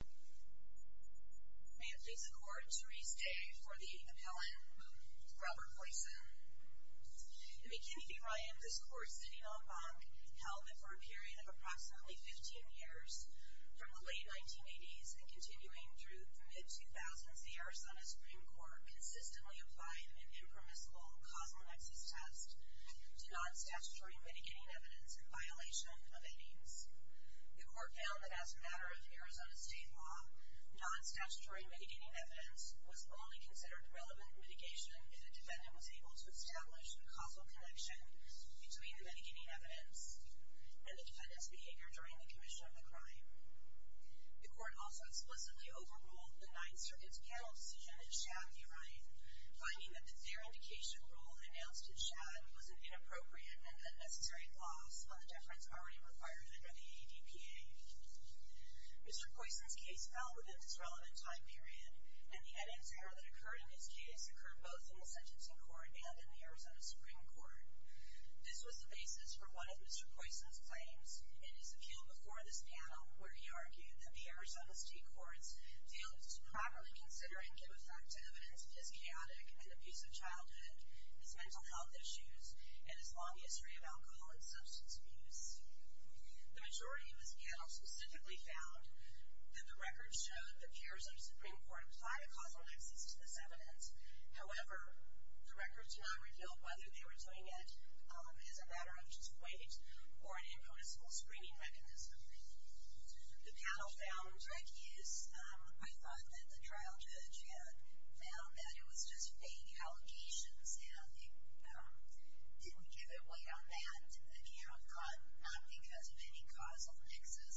May it please the Court, Therese Day for the appellant, Robert Poyson. In McKinney v. Ryan, this Court, sitting on Bank, held that for a period of approximately 15 years, from the late 1980s and continuing through the mid-2000s, the Arizona Supreme Court consistently applied an impermissible causal nexus test to non-statutory mitigating evidence in violation of aidings. The Court found that as a matter of Arizona state law, non-statutory mitigating evidence was only considered relevant mitigation if the defendant was able to establish a causal connection between the mitigating evidence and the defendant's behavior during the commission of the crime. The Court also explicitly overruled the Ninth Circuit's panel decision in Shad v. Ryan, finding that their indication rule announced in Shad was an inappropriate and unnecessary loss on the deference already required under the ADPA. Mr. Poyson's case fell within its relevant time period, and the evidence error that occurred in his case occurred both in the sentencing court and in the Arizona Supreme Court. This was the basis for one of Mr. Poyson's claims in his appeal before this panel, where he argued that the Arizona State Courts failed to properly consider and give effective evidence for his chaotic and abusive childhood, his mental health issues, and his long history of alcohol and substance abuse. The majority of his panel specifically found that the records showed that peers of the Supreme Court applied a causal axis to this evidence. However, the records did not reveal whether they were doing it as a matter of just weight or an impractical screening mechanism. The panel found rec use. I thought that the trial judge had found that it was just vague allegations, and they didn't give it weight on that account, not because of any causal mixes.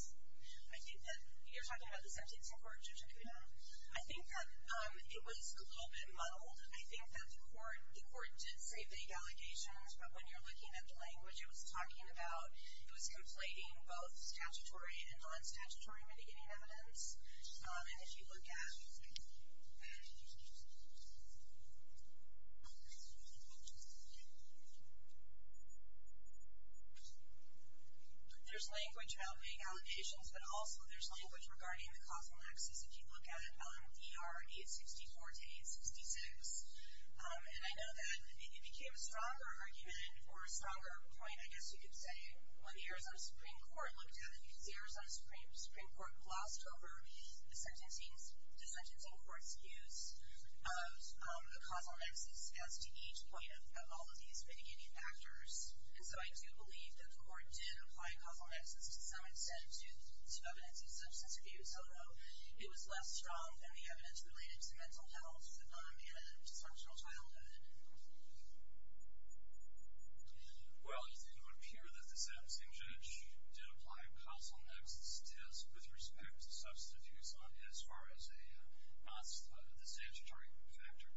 I think that... You're talking about the sentencing court, Judge Acuna? I think that it was a little bit muddled. I think that the Court did say vague allegations, but when you're looking at the language it was talking about, it was conflating both statutory and non-statutory mitigating evidence. And if you look at... There's language about vague allegations, but also there's language regarding the causal axis if you look at VR 864 to 866. And I know that it became a stronger argument or a stronger point, I guess you could say, when the Arizona Supreme Court looked at it, because the Arizona Supreme Court glossed over the sentencing court's use of the causal axis as to each point of all of these mitigating factors. And so I do believe that the Court did apply a causal axis to some extent to evidence of substance abuse, so it was less strong than the evidence related to mental health and sexual childhood. Well, it would appear that the sentencing judge did apply a causal axis with respect to substance abuse as far as the statutory factor,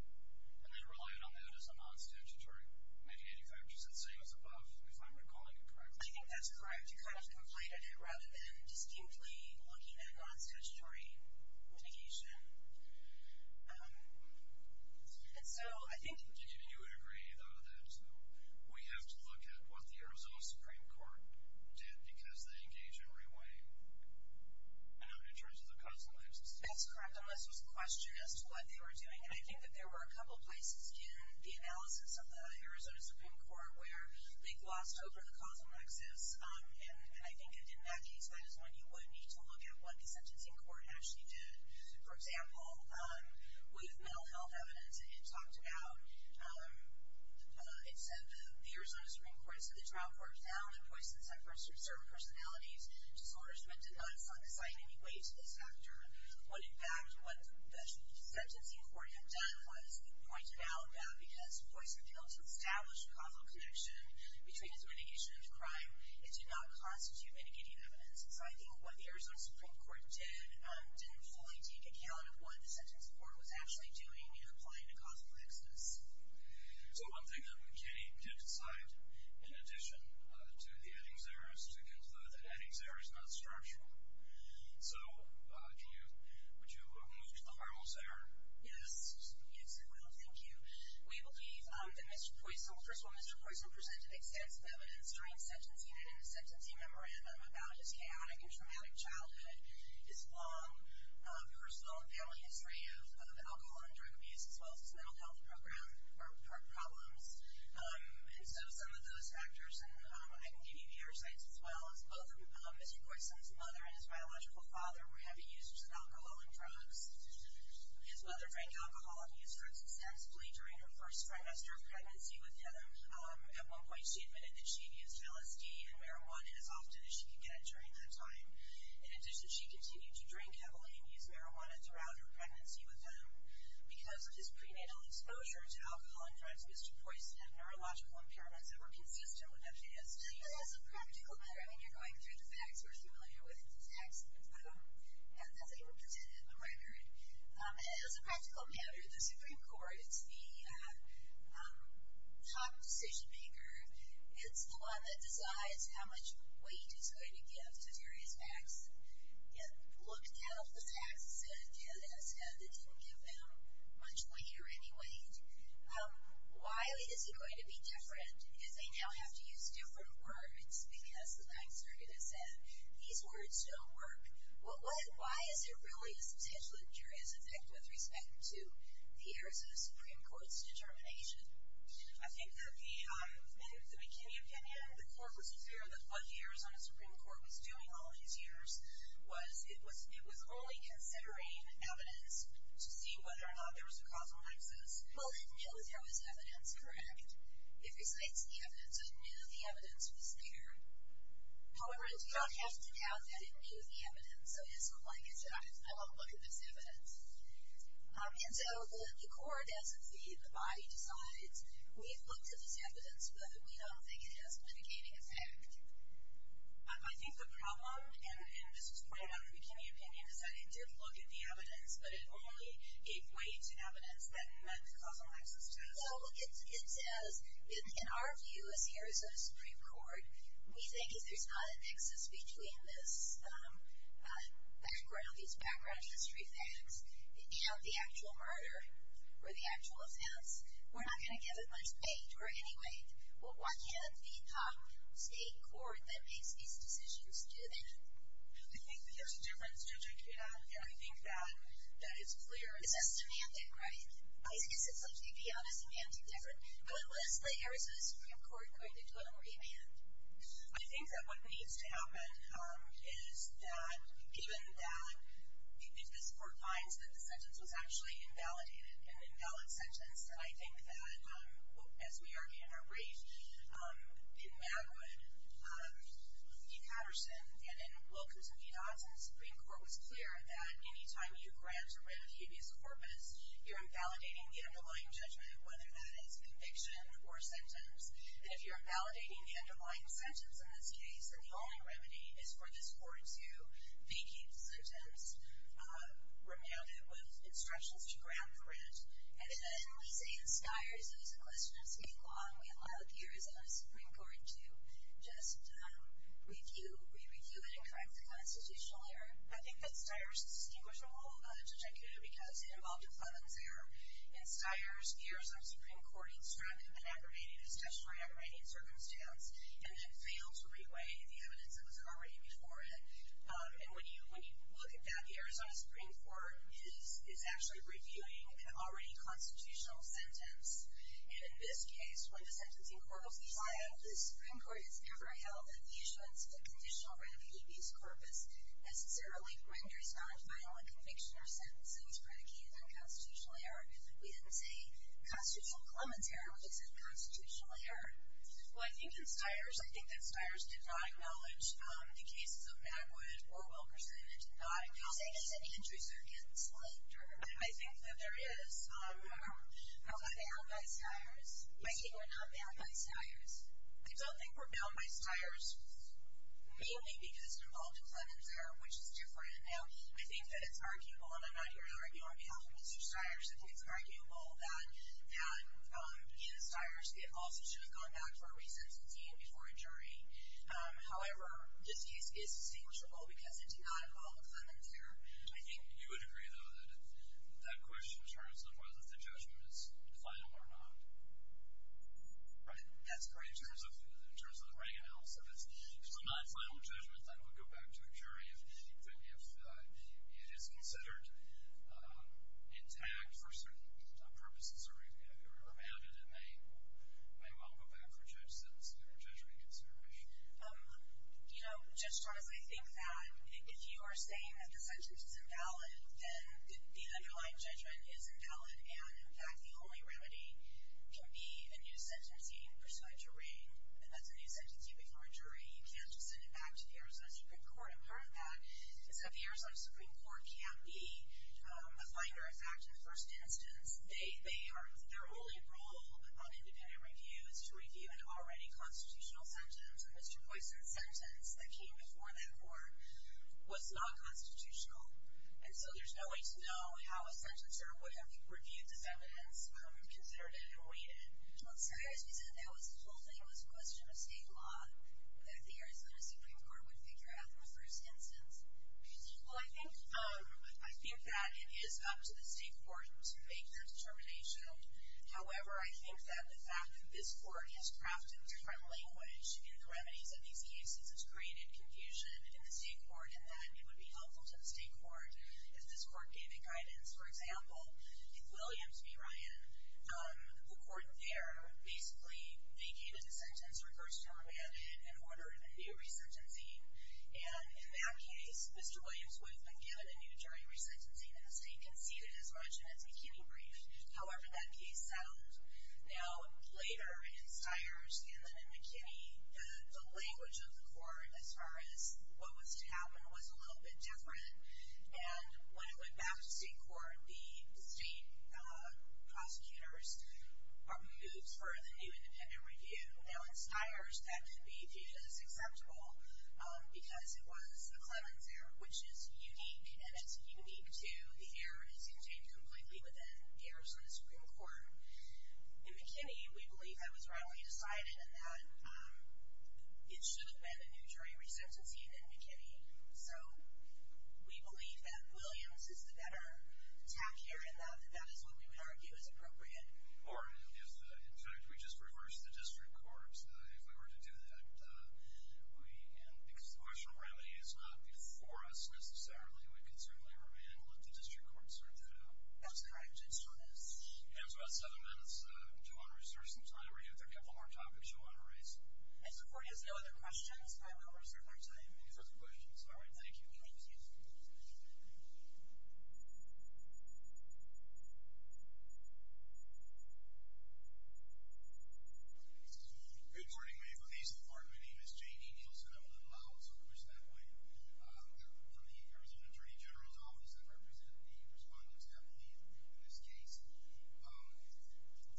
and then relied on that as a non-statutory mitigating factor. So let's say it was above, we find we're calling it correctly. I think that's correct. The judge kind of conflated it rather than distinctly looking at non-statutory mitigation. And so I think... You would agree, though, that we have to look at what the Arizona Supreme Court did because they engage in re-weighting in terms of the causal axis. That's correct, unless there's a question as to what they were doing. And I think that there were a couple places in the analysis of the Arizona Supreme Court where they glossed over the causal axis, and I think in that case that is when you would need to look at what the sentencing court actually did. For example, with mental health evidence, it talked about... It said that the Arizona Supreme Court said the trial court found that poisons have certain personalities, disorders, but did not cite any weight to this factor. When, in fact, what the sentencing court had done was it pointed out that because poison failed to establish a causal connection between its mitigation and crime, it did not constitute mitigating evidence. So I think what the Arizona Supreme Court did didn't fully take account of what the sentencing court was actually doing in applying the causal axis. So one thing that McKinney did cite, in addition to the Eddings error, is to conclude that the Eddings error is not structural. So would you move to the Harmel's error? Yes. Yes, I will. Thank you. We believe that Mr. Poisson... First of all, Mr. Poisson presented extensive evidence during sentencing that in a sentencing memorandum about his chaotic and traumatic childhood, his long personal and family history of alcohol and drug abuse, as well as his mental health problems. And so some of those factors, and I can give you the other sites as well, is both Mr. Poisson's mother and his biological father were heavy users of alcohol and drugs. His mother drank alcohol and used drugs successfully during her first trimester of pregnancy with him. At one point she admitted that she had used LSD and marijuana as often as she could get during that time. In addition, she continued to drink heavily and use marijuana throughout her pregnancy with him. Because of his prenatal exposure to alcohol and drugs, Mr. Poisson had neurological impairments that were consistent with FASD. As a practical matter, I mean, you're going through the facts. We're familiar with the facts. And that's what you were presented in the record. As a practical matter, the Supreme Court, it's the top decision-maker. It's the one that decides how much weight it's going to give to various facts. It looked at all the facts that it did, and it said it didn't give them much weight or any weight. Why is it going to be different? Because they now have to use different words because the Ninth Circuit has said these words don't work. Why is there really this potentially injurious effect with respect to the Arizona Supreme Court's determination? I think that the McKinney opinion, the court was clear that what the Arizona Supreme Court was doing all these years was it was only considering evidence to see whether or not there was a causal axis. Well, it knew there was evidence, correct? It recites the evidence. It knew the evidence was there. However, it did not have to doubt that it knew the evidence. So it doesn't look like it said, I won't look at this evidence. And so the court doesn't see the body decides. We've looked at this evidence, but we don't think it has a mitigating effect. I think the problem, and this was pointed out in the McKinney opinion, is that it did look at the evidence, but it only gave weight to evidence that meant causal axis to it. So it says, in our view as the Arizona Supreme Court, we think if there's not an axis between this background, these background history facts and the actual murder or the actual offense, we're not going to give it much weight or any weight. Why can't the state court that makes these decisions do that? I think there's a difference. I think that it's clear. It's systematic, right? I mean, I guess it's like you'd be honest and answer different good list layers of the Supreme Court going into a remand. I think that what needs to happen is that even that if this court finds that the sentence was actually invalidated, an invalid sentence, and I think that as we argue in our brief in Magwood, in Patterson and in Wilkerson v. Hodgson, the Supreme Court was clear that any time you grant a writ of habeas corpus, you're invalidating the underlying judgment, whether that is conviction or sentence. And if you're invalidating the underlying sentence in this case, then the only remedy is for this court to vacate the sentence, remand it with instructions to grant the writ. And then we say in Steyer's as a question of speak long, we allow the Arizona Supreme Court to just review it and correct the constitutional error. I think that Steyer's is distinguishable, Judge Akutu, because it involved a clemency error. In Steyer's, the Arizona Supreme Court instructed an aggravated, a statutory aggravated circumstance, and then failed to re-weigh the evidence that was already before it. And when you look at that, the Arizona Supreme Court is actually reviewing an already constitutional sentence. In this case, when the sentencing court was decided, the Supreme Court has never held that the issuance of a conditional writ of habeas corpus necessarily renders non-final a conviction or sentence and is predicated on constitutional error. We didn't say constitutional clemency error, we just said constitutional error. Well, I think in Steyer's, I think that Steyer's did not acknowledge the cases of Magwood or Wilkerson. It did not acknowledge any entries that are getting selected. I think that there is. Are they out by Steyer's? I think we're not bound by Steyer's. I don't think we're bound by Steyer's, mainly because we're involved in clemency error, which is different. Now, I think that it's arguable, and I'm not here to argue on behalf of Mr. Steyer's. I think it's arguable that in Steyer's, the officer should have gone back for a re-sentencing before a jury. However, this case is distinguishable because it did not involve clemency error. I think you would agree, though, that if that question turns, then whether the judgment is final or not. Right? That's correct. In terms of the writing analysis, if it's a non-final judgment, then it would go back to the jury. If it is considered intact for certain purposes, or if it were abandoned, it may well go back for judge sentencing or judgment against intermission. You know, Judge Charles, I think that if you are saying that the sentence is invalid, then the underlying judgment is invalid, and, in fact, the only remedy can be a new sentencing for a jury, and that's a new sentencing for a jury. You can't just send it back to the Arizona Supreme Court. And part of that is that the Arizona Supreme Court can be a finder. In fact, in the first instance, their only role on independent review is to review an already constitutional sentence, and Mr. Poisson's sentence that came before that court was non-constitutional. And so there's no way to know how a sentencer would have reviewed this evidence, considered it, and weighed it. I'm sorry. As we said, the whole thing was a question of state law that the Arizona Supreme Court would figure out in the first instance. Well, I think that it is up to the state court to make that determination. However, I think that the fact that this court has crafted different language in the remedies of these cases has created confusion in the state court and that it would be helpful to the state court if this court gave it guidance. For example, in Williams v. Ryan, the court there, basically they gave it a sentence regarding a man in order of a new resentencing. And in that case, Mr. Williams would have been given a new jury resentencing, and the state conceded as much in its McKinney brief. However, that case settled. Now, later in Stiers and then in McKinney, the language of the court as far as what was to happen was a little bit different. And when it went back to state court, the state prosecutors moved for the new independent review. Now, in Stiers, that could be viewed as acceptable because it was the Clemens error, which is unique, and it's unique to the error, and it's contained completely within the Arizona Supreme Court. In McKinney, we believe that was rightly decided and that it should have been a new jury resentencing in McKinney. So we believe that Williams is the better tack here and that that is what we would argue is appropriate. Or, in fact, we just reversed the district court. If we were to do that, because the martial morality is not before us necessarily, we could certainly remand and let the district court sort that out. That's correct. And so that's about seven minutes. If you want to reserve some time, we have a couple more topics you want to raise. And so, before you ask any other questions, I will reserve our time. Any further questions? All right. Thank you. Thank you. Good morning. My name is J.D. Nielsen. I want to allow us to push that point. I work for the Arizona Attorney General's Office. I represent the respondents at McKinney in this case.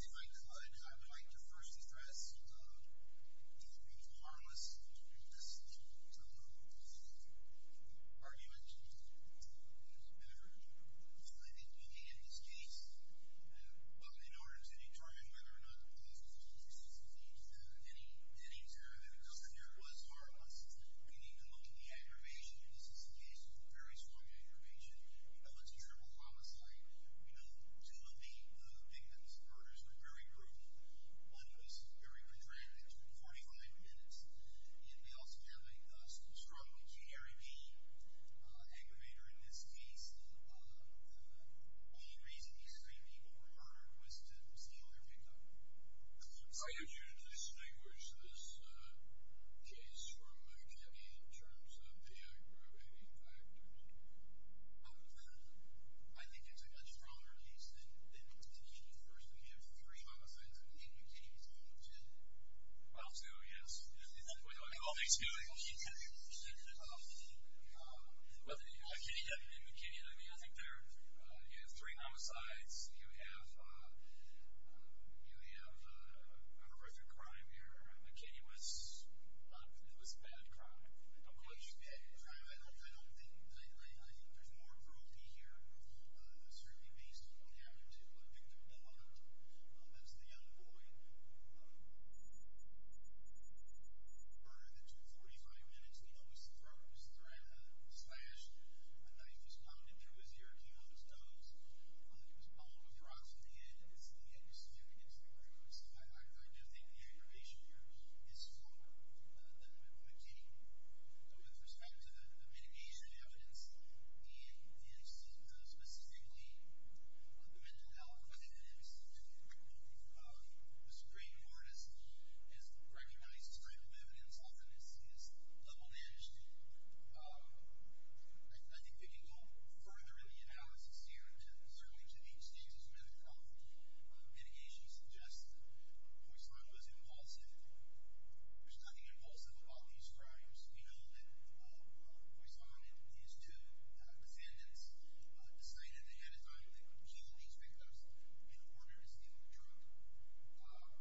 If I could, I would like to first address the harmless decision to move this argument to his benefit. I think we need, in this case, in order to determine whether or not the police need to have any sort of evidence on whether it was harmless, we need to look at the aggravation. And this is a case with very strong aggravation. We know it's a criminal homicide. We know two of the victims' murders were very brutal. One was very dramatic. It took 45 minutes. And we're also having some trouble with the ARB aggravator in this case. The only reason these three people were murdered was to conceal their victim. I urge you to distinguish this case from McKinney in terms of the aggravation factors. I think it's a much stronger case than McKinney. First, we have three homicides, and McKinney is one of ten. Well, two, yes. Well, excuse me. McKinney, I mean, I think there are three homicides. You have a horrific crime here. McKinney was a bad crime. I don't believe you. I don't think. I think there's more aggravation here, certainly based on the attitude of the victim, that's the young boy, murdered in two 45 minutes. We know his throat was slashed. A knife was pounded through his ear, came out his nose. He was bombed with rocks in the head, and his head was smeared against the roof. I don't think the aggravation here is stronger than McKinney. With respect to the mitigation evidence, and specifically the mental health evidence, which I think Mr. Green, who's an artist, has recognized this type of evidence, often is level-edged, I think we can go further in the analysis here, certainly to these things. There's been a couple of mitigations suggested. Poisson was impulsive. There's nothing impulsive about these crimes. We know that Poisson and these two defendants decided ahead of time that they would kill these victims in order to steal the drug.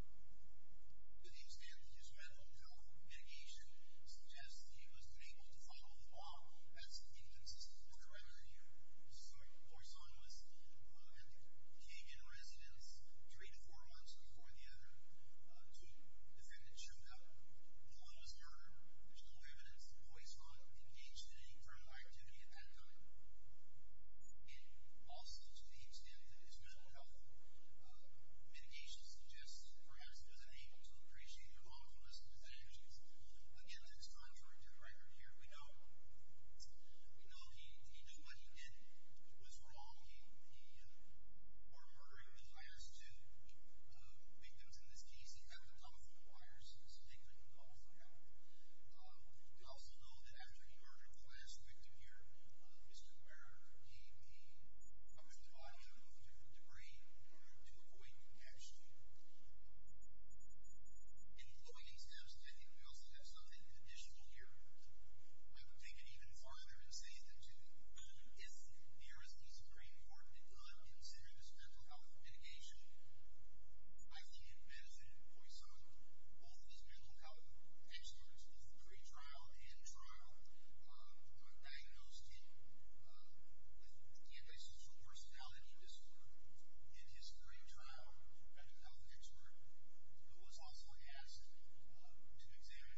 To the extent that his mental health mitigation suggests that he was unable to follow the law, that's inconsistent with the remedy. Poisson came in residence three to four months before the other. Two defendants showed up. Poisson was murdered. There's no evidence that Poisson engaged in any kind of activity at that time. Also, to the extent that his mental health mitigation suggests that perhaps he was unable to appreciate the lawfulness of his actions, again, that's contrary to the record here. We know he did what he did. He was wrong. The murdering of the highest two victims in this case, we see epitome for Poisson. It's a negative epitome for him. We also know that after the murder of the last victim here, Mr. Muir gave the body in order to degrade in order to avoid contaction. In the following examples, I think we also have something additional here. I would take it even farther and say that, too, the RSD is a very important and good and serious mental health mitigation. I see in Madison and Poisson, both of these mental health experts, in the pre-trial and trial, diagnosed him with the antisocial personality disorder. In his pre-trial mental health expert, who was also asked to examine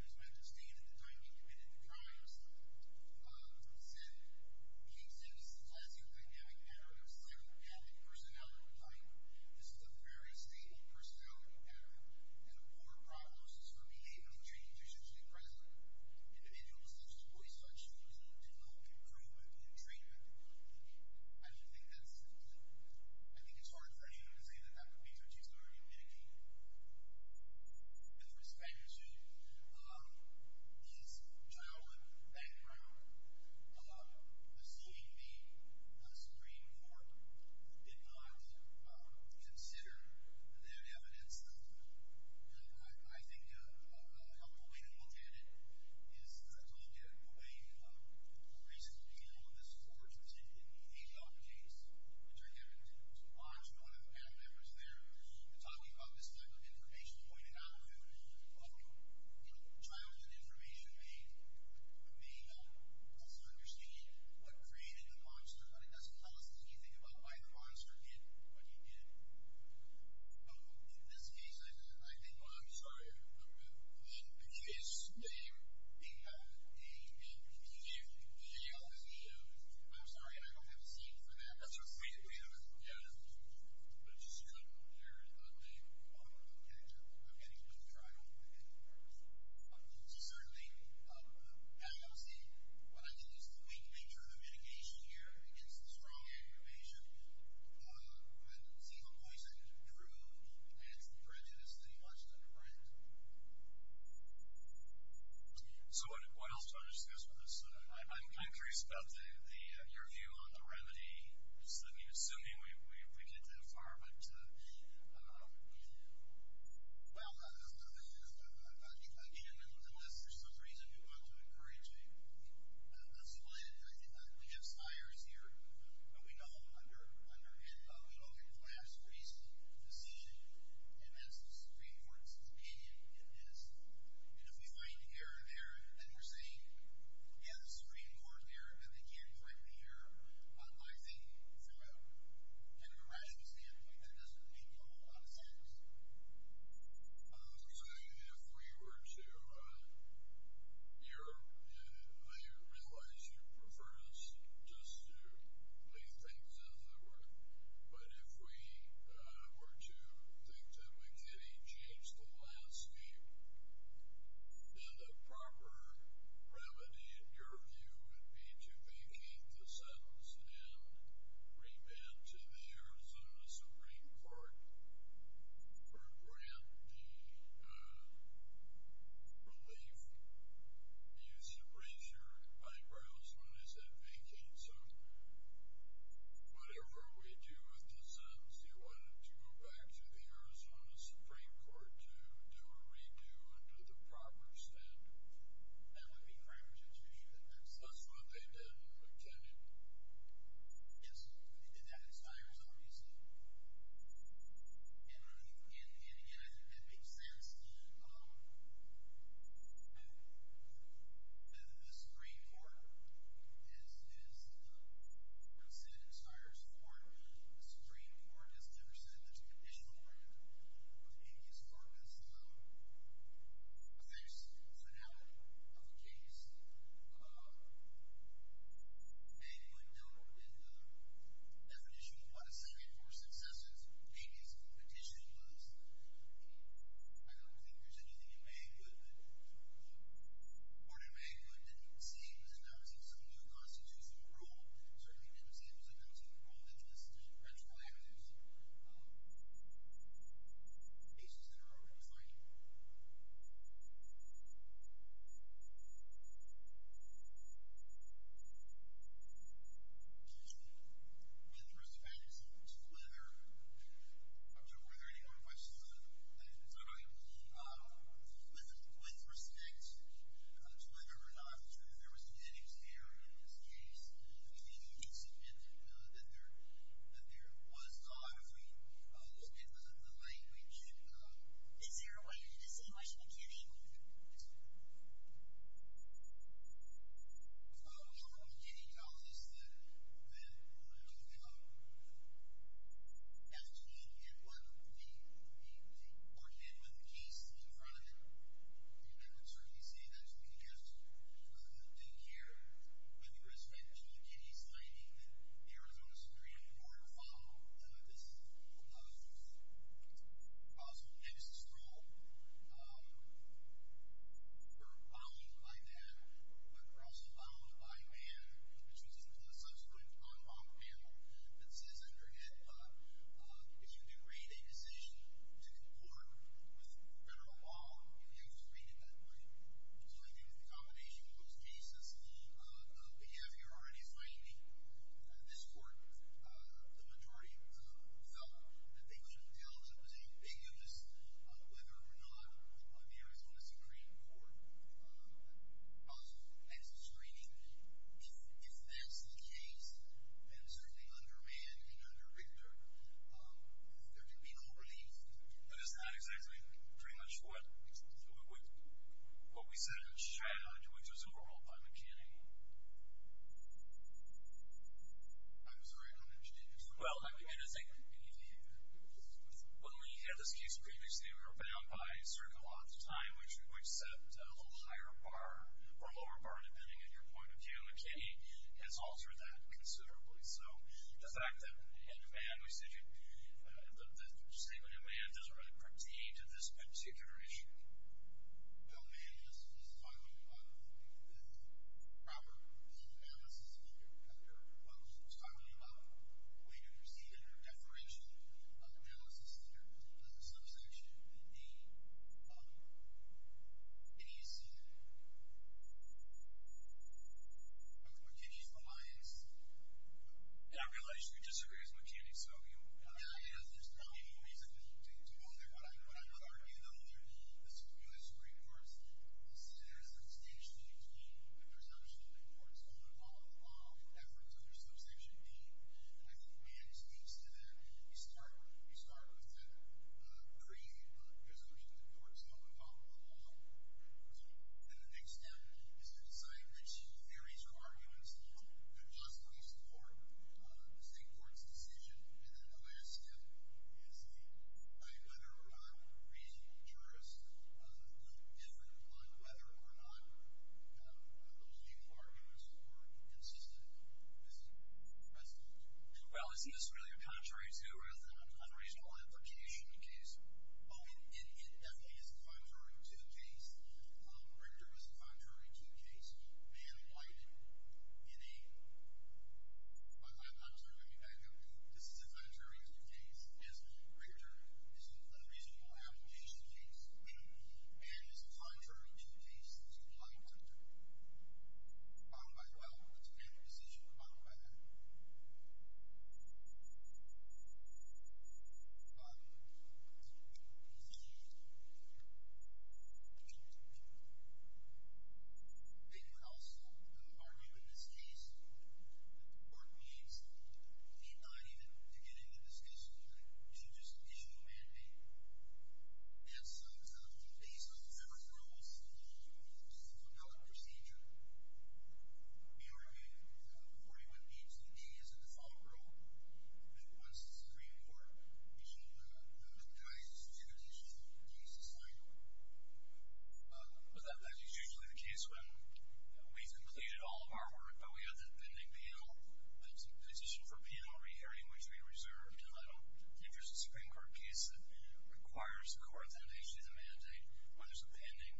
his mental state at the time he committed the crimes, said he exhibits a less than dynamic mental personality type. This is a very stable personality pattern, and a poor prognosis for behavior changes in the present. Individuals such as Poisson should be deemed to have improvement in treatment. I do think that's important. I think it's hard for anyone to say that that would be some sort of mitigation. With respect to his trial and background, seeing the Supreme Court did not consider that evidence. I think a helpful way to look at it is to look at the way the recent appeal of this court in the apologies, which are given to watch one of the panel members there, talking about this type of information pointed out, trials and information may help us understand what created the monster, but it doesn't tell us anything about why the monster did what he did. In this case, I think... I'm sorry. In this case, the appeal is... The appeal is... I'm sorry, I don't have a scene for that. That's okay. I think we have evidence, which should appear in a lawful content of any of the trials. Certainly, I don't see what I can do is to make a major mitigation here against the strong aggravation. I don't see how Poisson can prove that it's the prejudice that he wants to underwrite. So what else do you want to discuss with us? I'm curious about your view on the remedy. Just let me assume we get that far, but... Well, I think, again, unless there's some reason you want to encourage me, absolutely, I think we have spires here, but we know under a broken glass reason for the decision, and that's the Supreme Court's opinion in this. And if we point here or there and we're saying, yeah, the Supreme Court there, and then they can't point here, I think from an irrational standpoint, that doesn't make a whole lot of sense. So if we were to... I realize you prefer us just to leave things as they were, but if we were to think that we could enhance the landscape and a proper remedy, in your view, would be to vacate the sentence and remand to the Arizona Supreme Court for grantee relief, you should raise your eyebrows when I said vacate sentence. Whatever we do with the sentence, you want it to go back to the Arizona Supreme Court to do a redo under the proper standard. That would be framed judicially. That's what they did in McKinnon. Yes, they did that in Spires, obviously. And, again, I think that makes sense. The Supreme Court, as I said, in Spires Court, the Supreme Court has never said that there's an additional word within these courts. I think it's somehow a vacancy. Banggood dealt with the definition of what a second-court success is. Maybe it's a petition, but I don't think there's anything in Banggood or in Banggood that seems and doesn't seem to be a constitutional rule. It certainly didn't seem as though it was a rule that just retroactively cases that are overrefined. With respect to leather, I'm not sure if there are any more questions on that. I mean, with respect to leather, I'm not sure if there was an edit there in this case. I mean, I think you can submit that there was calligraphy. It was in the language. Is there a way to distinguish McKinney? Well, McKinney calls this leather. Actually, he did one. He coordinated with the case in front of him. And I would certainly say that's being adjusted in here. With respect to McKinney signing the Arizona Supreme Court file, this is a possible next straw. We're bound by that, but we're also bound by a man, which is in the subsequent on-law panel that says under HIPAA, if you degrade a decision to court with federal law, you have to read it that way. So I think the combination of those cases, the behavior already framed in this court, the majority felt that they couldn't deal as a position, being able to decide whether or not the Arizona Supreme Court possible exit screening. If that's the case, then certainly under man and under rigor, there can be no relief. That is not exactly pretty much what we said in charge, which was overruled by McKinney. I'm sorry. Well, let me get a thing. When we had this case previously, we were bound by certain laws of time, which said a little higher bar or lower bar, depending on your point of view. McKinney has altered that considerably. So the fact that, again, in man, we said the statement in man doesn't really critique this particular issue. Well, man is talking with Robert, who is an analysis leader, who was talking about a way to proceed under a deferential analysis leader. As a subsection, the agency of McKinney's reliance, and I realize you disagree as McKinney, so you know that I have this problem, but it doesn't take too long there. What I would argue, though, under the Supreme Judiciary Court, is that there's a distinction between the presumption that the court's own efforts under subsection B, and I think man speaks to that. We start with the presumption that the court's own involvement in the law. And the next step is to decide which theories or arguments are justified for the state court's decision. And then the last step is whether or not reasonable jurists could differ on whether or not those legal arguments were consistent with the precedent. Well, is this really a contrary to or an unreasonable application case? Oh, it definitely is a contrary to the case. Ritter was a contrary to the case. Mann lied in a... I'm sorry, let me back up. This is a contrary to the case. Ritter is a reasonable application case. Mann is a contrary to the case. He lied in that case. Bottom line, well, it's a family decision. The bottom line... They would also argue in this case that the court needs not even to get into this case to just issue a mandate. That's based on federal rules and that's a federal procedure. We argue that 41B to the D is a default rule. That once it's in the Supreme Court, we should not even try to issue a petition for the case to sign. But that is usually the case when we've completed all of our work, but we have that pending penal petition for penalty hearing, which we reserve. If there's a Supreme Court case that requires a court to issue the mandate, well, there's a pending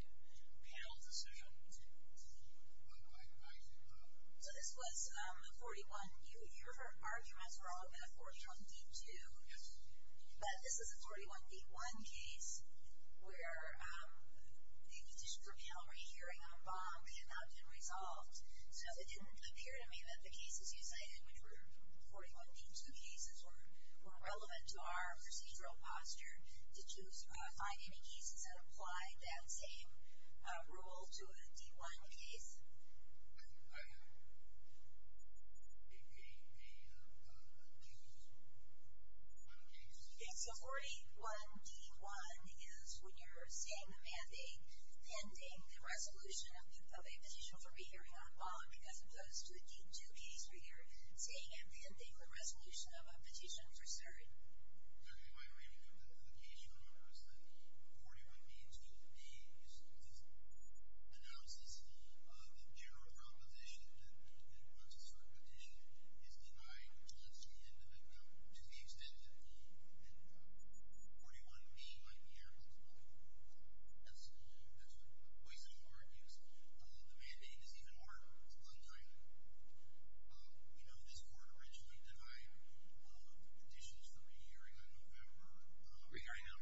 panel decision. So this was a 41... Your arguments were all about a 41D2. Yes. But this is a 41D1 case where the petition for penalty hearing on Baum had not been resolved. So it didn't appear to me that the cases you cited, which were 41D2 cases, were relevant to our procedural posture to find any cases that apply that same rule to a D1 case. So 41D1 is when you're saying the mandate pending the resolution of a petition for penalty hearing on Baum as opposed to a D2 case where you're saying and pending the resolution of a petition for cert. The issue, however, is that 41D2, the analysis of the general proposition that the court wants a cert petition is denied to the extent that 41D might be applicable. That's a poised argument. The mandate is even more untitled. You know, this court originally denied the petition to the re-hearing in November regarding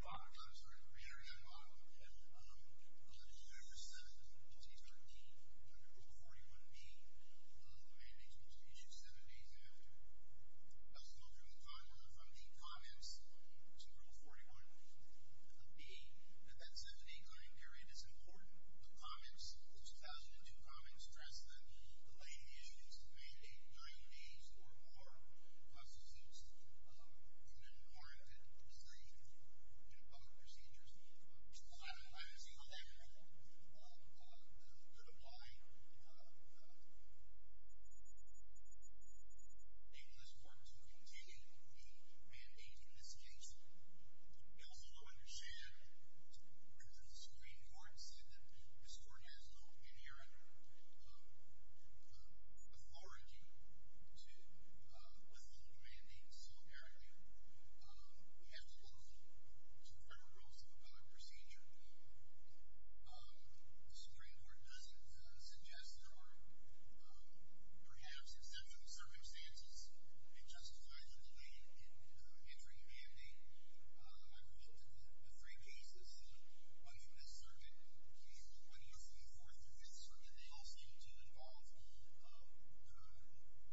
Baum. I'm sorry, the re-hearing on Baum. The petitioner just said that the petitioner deemed Rule 41D one of the mandates was to be issued seven days after. That's a little bit of time whether from the comments to Rule 41B that that seven-day claim period is important. The comments, the 2002 comments, stress that the lady issued is to mandate nine days or more. The process is human-oriented procedures. I don't see how that could apply. I think this court is going to continue to be mandating this case. We also understand, according to the Supreme Court, that this court has no inherent authority with the new mandate. So, apparently, we have to go to the federal rules of procedure. The Supreme Court doesn't suggest or perhaps, except for the circumstances, it justifies the delay in entering a mandate. I've looked at the three cases, one from this circuit, usually one of the three, four through this circuit. They all seem to involve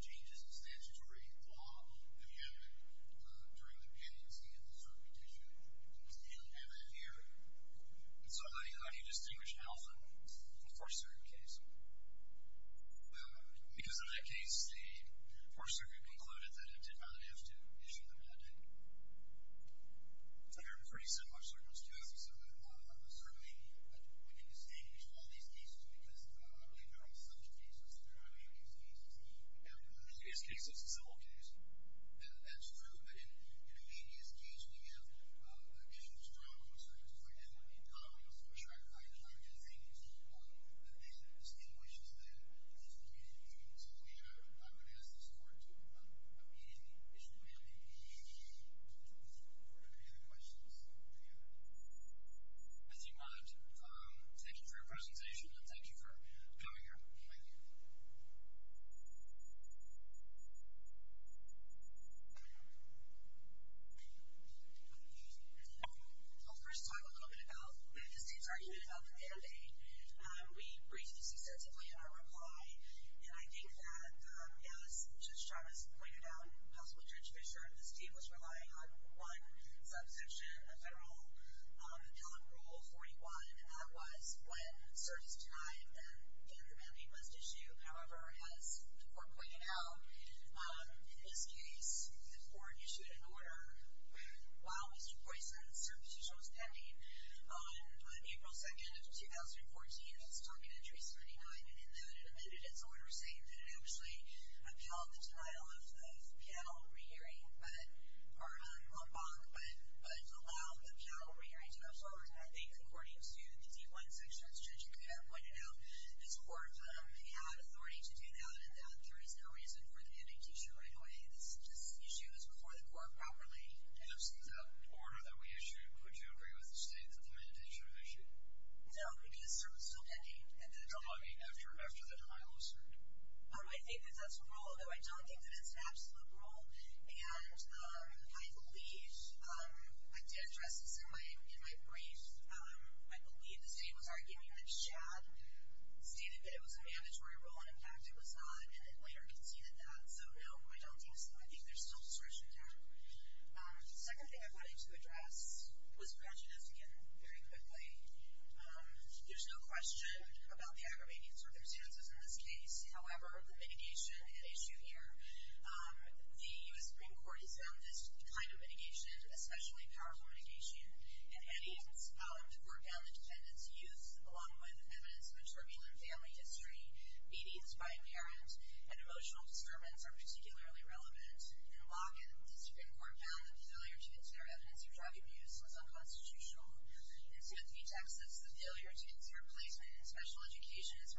changes in statutory law that we have during the pendency and the circuit issue. You don't have that here. So how do you distinguish an elephant from the first-circuit case? Because in that case, the first-circuit concluded that it did not have to issue the mandate. There are pretty similar circumstances. Certainly, we can distinguish all these cases because I believe there are such cases. There are many such cases. In this case, it's a civil case. That's true. But in many of these cases, we have issues drawn from a circumstance like that that would be common. So I'm just saying you see that that distinguishes an elephant from a human being. So, yeah, I would ask this court to amend the issue of mandate in relation to the Supreme Court. Are there any other questions? If you want, thank you for your presentation, and thank you for coming here. Thank you. I'll first talk a little bit about the state's argument about the mandate. We raised this extensively in our reply, and I think that, yeah, as Judge Chavez pointed out, House Bill 237, the state was relying on one subsection, a federal appellate rule 41, and that was when service denial and gender mandate must issue. However, as the court pointed out, in this case, the court issued an order while Mr. Boyce had a service issuance pending on April 2nd of 2014. That's Target Entry 79. And in that, it omitted its order, saying that it actually upheld the denial of panel re-hearing, or a bonk, but allowed the panel re-hearing to go forward. And I think, according to the D1 section, as Judge Chavez pointed out, this court had authority to do that, and that there is no reason for the indication right away. This issue was before the court properly. In absence of the order that we issued, would you agree with the state that the mandate should have issued? No, because service is still pending. And that's after the denial was heard. I think that that's a rule, and I believe, I did address this in my brief. I believe the state was arguing that Chad stated that it was a mandatory rule, and in fact it was not, and then later conceded that. So, no, I don't think so. I think there's still discretion there. The second thing I wanted to address was prejudice, again, very quickly. There's no question about the aggravation circumstances in this case. However, the mitigation at issue here, the U.S. Supreme Court has found this kind of mitigation especially powerful mitigation and it's power to court-bound independence of youth, along with evidence of a turbulent family history, obedience by a parent, and emotional disturbance are particularly relevant. In Watkins, the Supreme Court found the failure to consider evidence for child abuse was unconstitutional. In Timothy, Texas, the failure to consider placement in special education and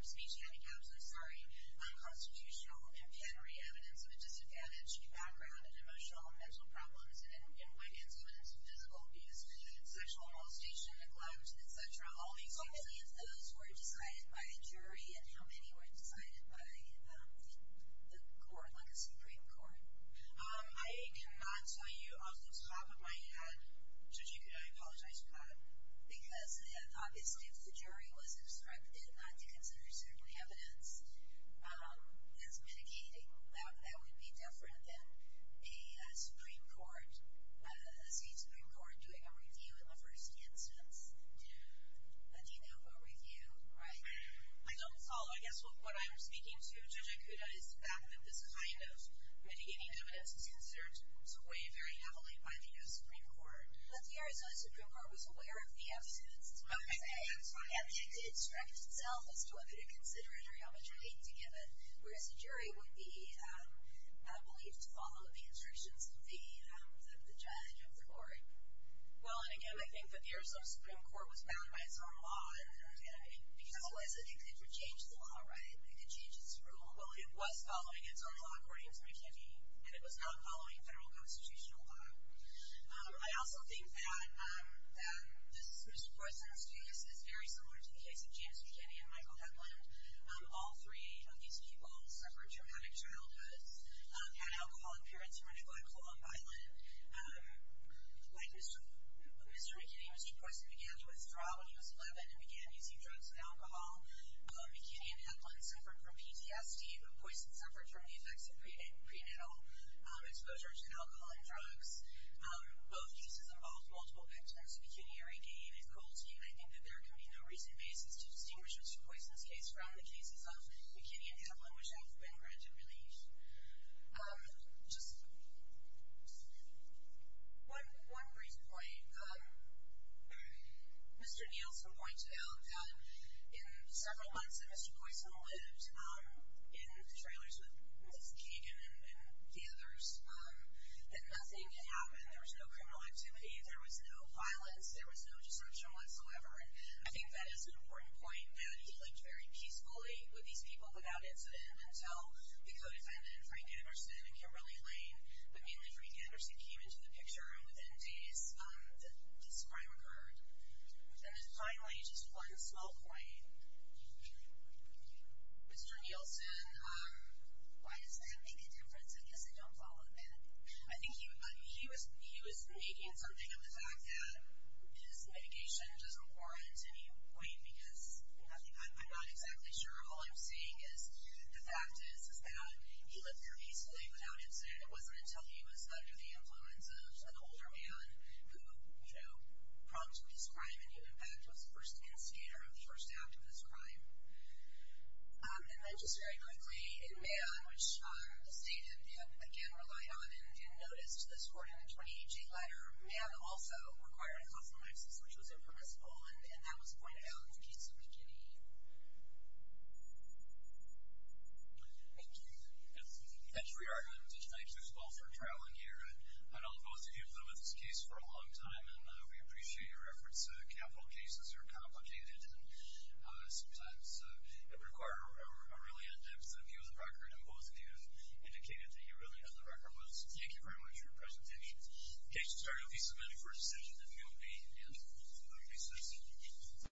speech handicaps was unconstitutional and can re-evidence of a disadvantaged background and emotional and mental problems. In Watkins, evidence of physical abuse, sexual molestation, neglect, etc. How many of those were decided by a jury and how many were decided by the Supreme Court? I cannot tell you off the top of my head. I apologize, Pat. Because, obviously, if the jury was instructed not to consider certain evidence as mitigating, that would be different than a Supreme Court, a state Supreme Court, doing a review in the first instance. Do you know of a review? I don't follow. I guess what I'm speaking to, Judge Akuda, is the fact that this kind of mitigating evidence is considered to weigh very heavily by the U.S. Supreme Court. But the Arizona Supreme Court was aware of the absence. I'm sorry. It did instruct itself as to whether to consider it or how much weight to give it. Whereas a jury would be not believed to follow the instructions of the judge of the court. Well, and again, I think that the Arizona Supreme Court was bound by its own law. Because otherwise, it could change the law, right? It could change its rule. Well, it was following its own law, according to McKinney. And it was not following federal constitutional law. I also think that this is Mr. Poisson's case. It's very similar to the case of James McKinney and Michael Hepland. All three of these people suffered traumatic childhoods, had alcohol appearance, were neglectful, unviolent. Mr. McKinney was a person who began to withdraw when he was 11 and began using drugs and alcohol. McKinney and Hepland suffered from PTSD. Poisson suffered from the effects of prenatal exposure to alcohol and drugs. Both cases involved multiple victims. McKinney already gave his guilty. I think that there can be no recent basis to distinguish Mr. Poisson's case from the cases of McKinney and Hepland, which have been granted relief. Just one brief point. Mr. Nielsen pointed out that in several months that Mr. Poisson lived, in the trailers with Ms. Kagan and the others, that nothing had happened. There was no criminal activity. There was no violence. There was no desertion whatsoever. I think that is an important point that he lived very peacefully with these people without incident until the co-defendant, Frank Anderson, came really clean. But mainly Frank Anderson came into the picture and within days this crime occurred. And then finally, just one small point. Mr. Nielsen, why does that make a difference? I guess I don't follow that. I think he was making something of the fact that his mitigation doesn't warrant any weight because I'm not exactly sure. All I'm saying is the fact is that he lived very peacefully without incident. It wasn't until he was under the influence of an older man who prompted this crime and in fact was the first instigator of the first act of this crime. And then just very quickly, the state and MAM, which the state again relied on and noticed this court in the 2018 letter, MAM also required a compromise which was impermissible and that was pointed out in the case in the beginning. Thank you. Thanks for your argument. Thank you as well for trailing here. I know both of you have been with this case for a long time and we appreciate your efforts. Capital cases are complicated and sometimes require a really in-depth review of the record and both of you indicated that you really had the record. Thank you very much for your presentation. In case you're starting to be submitted for a decision that you'll be in recess.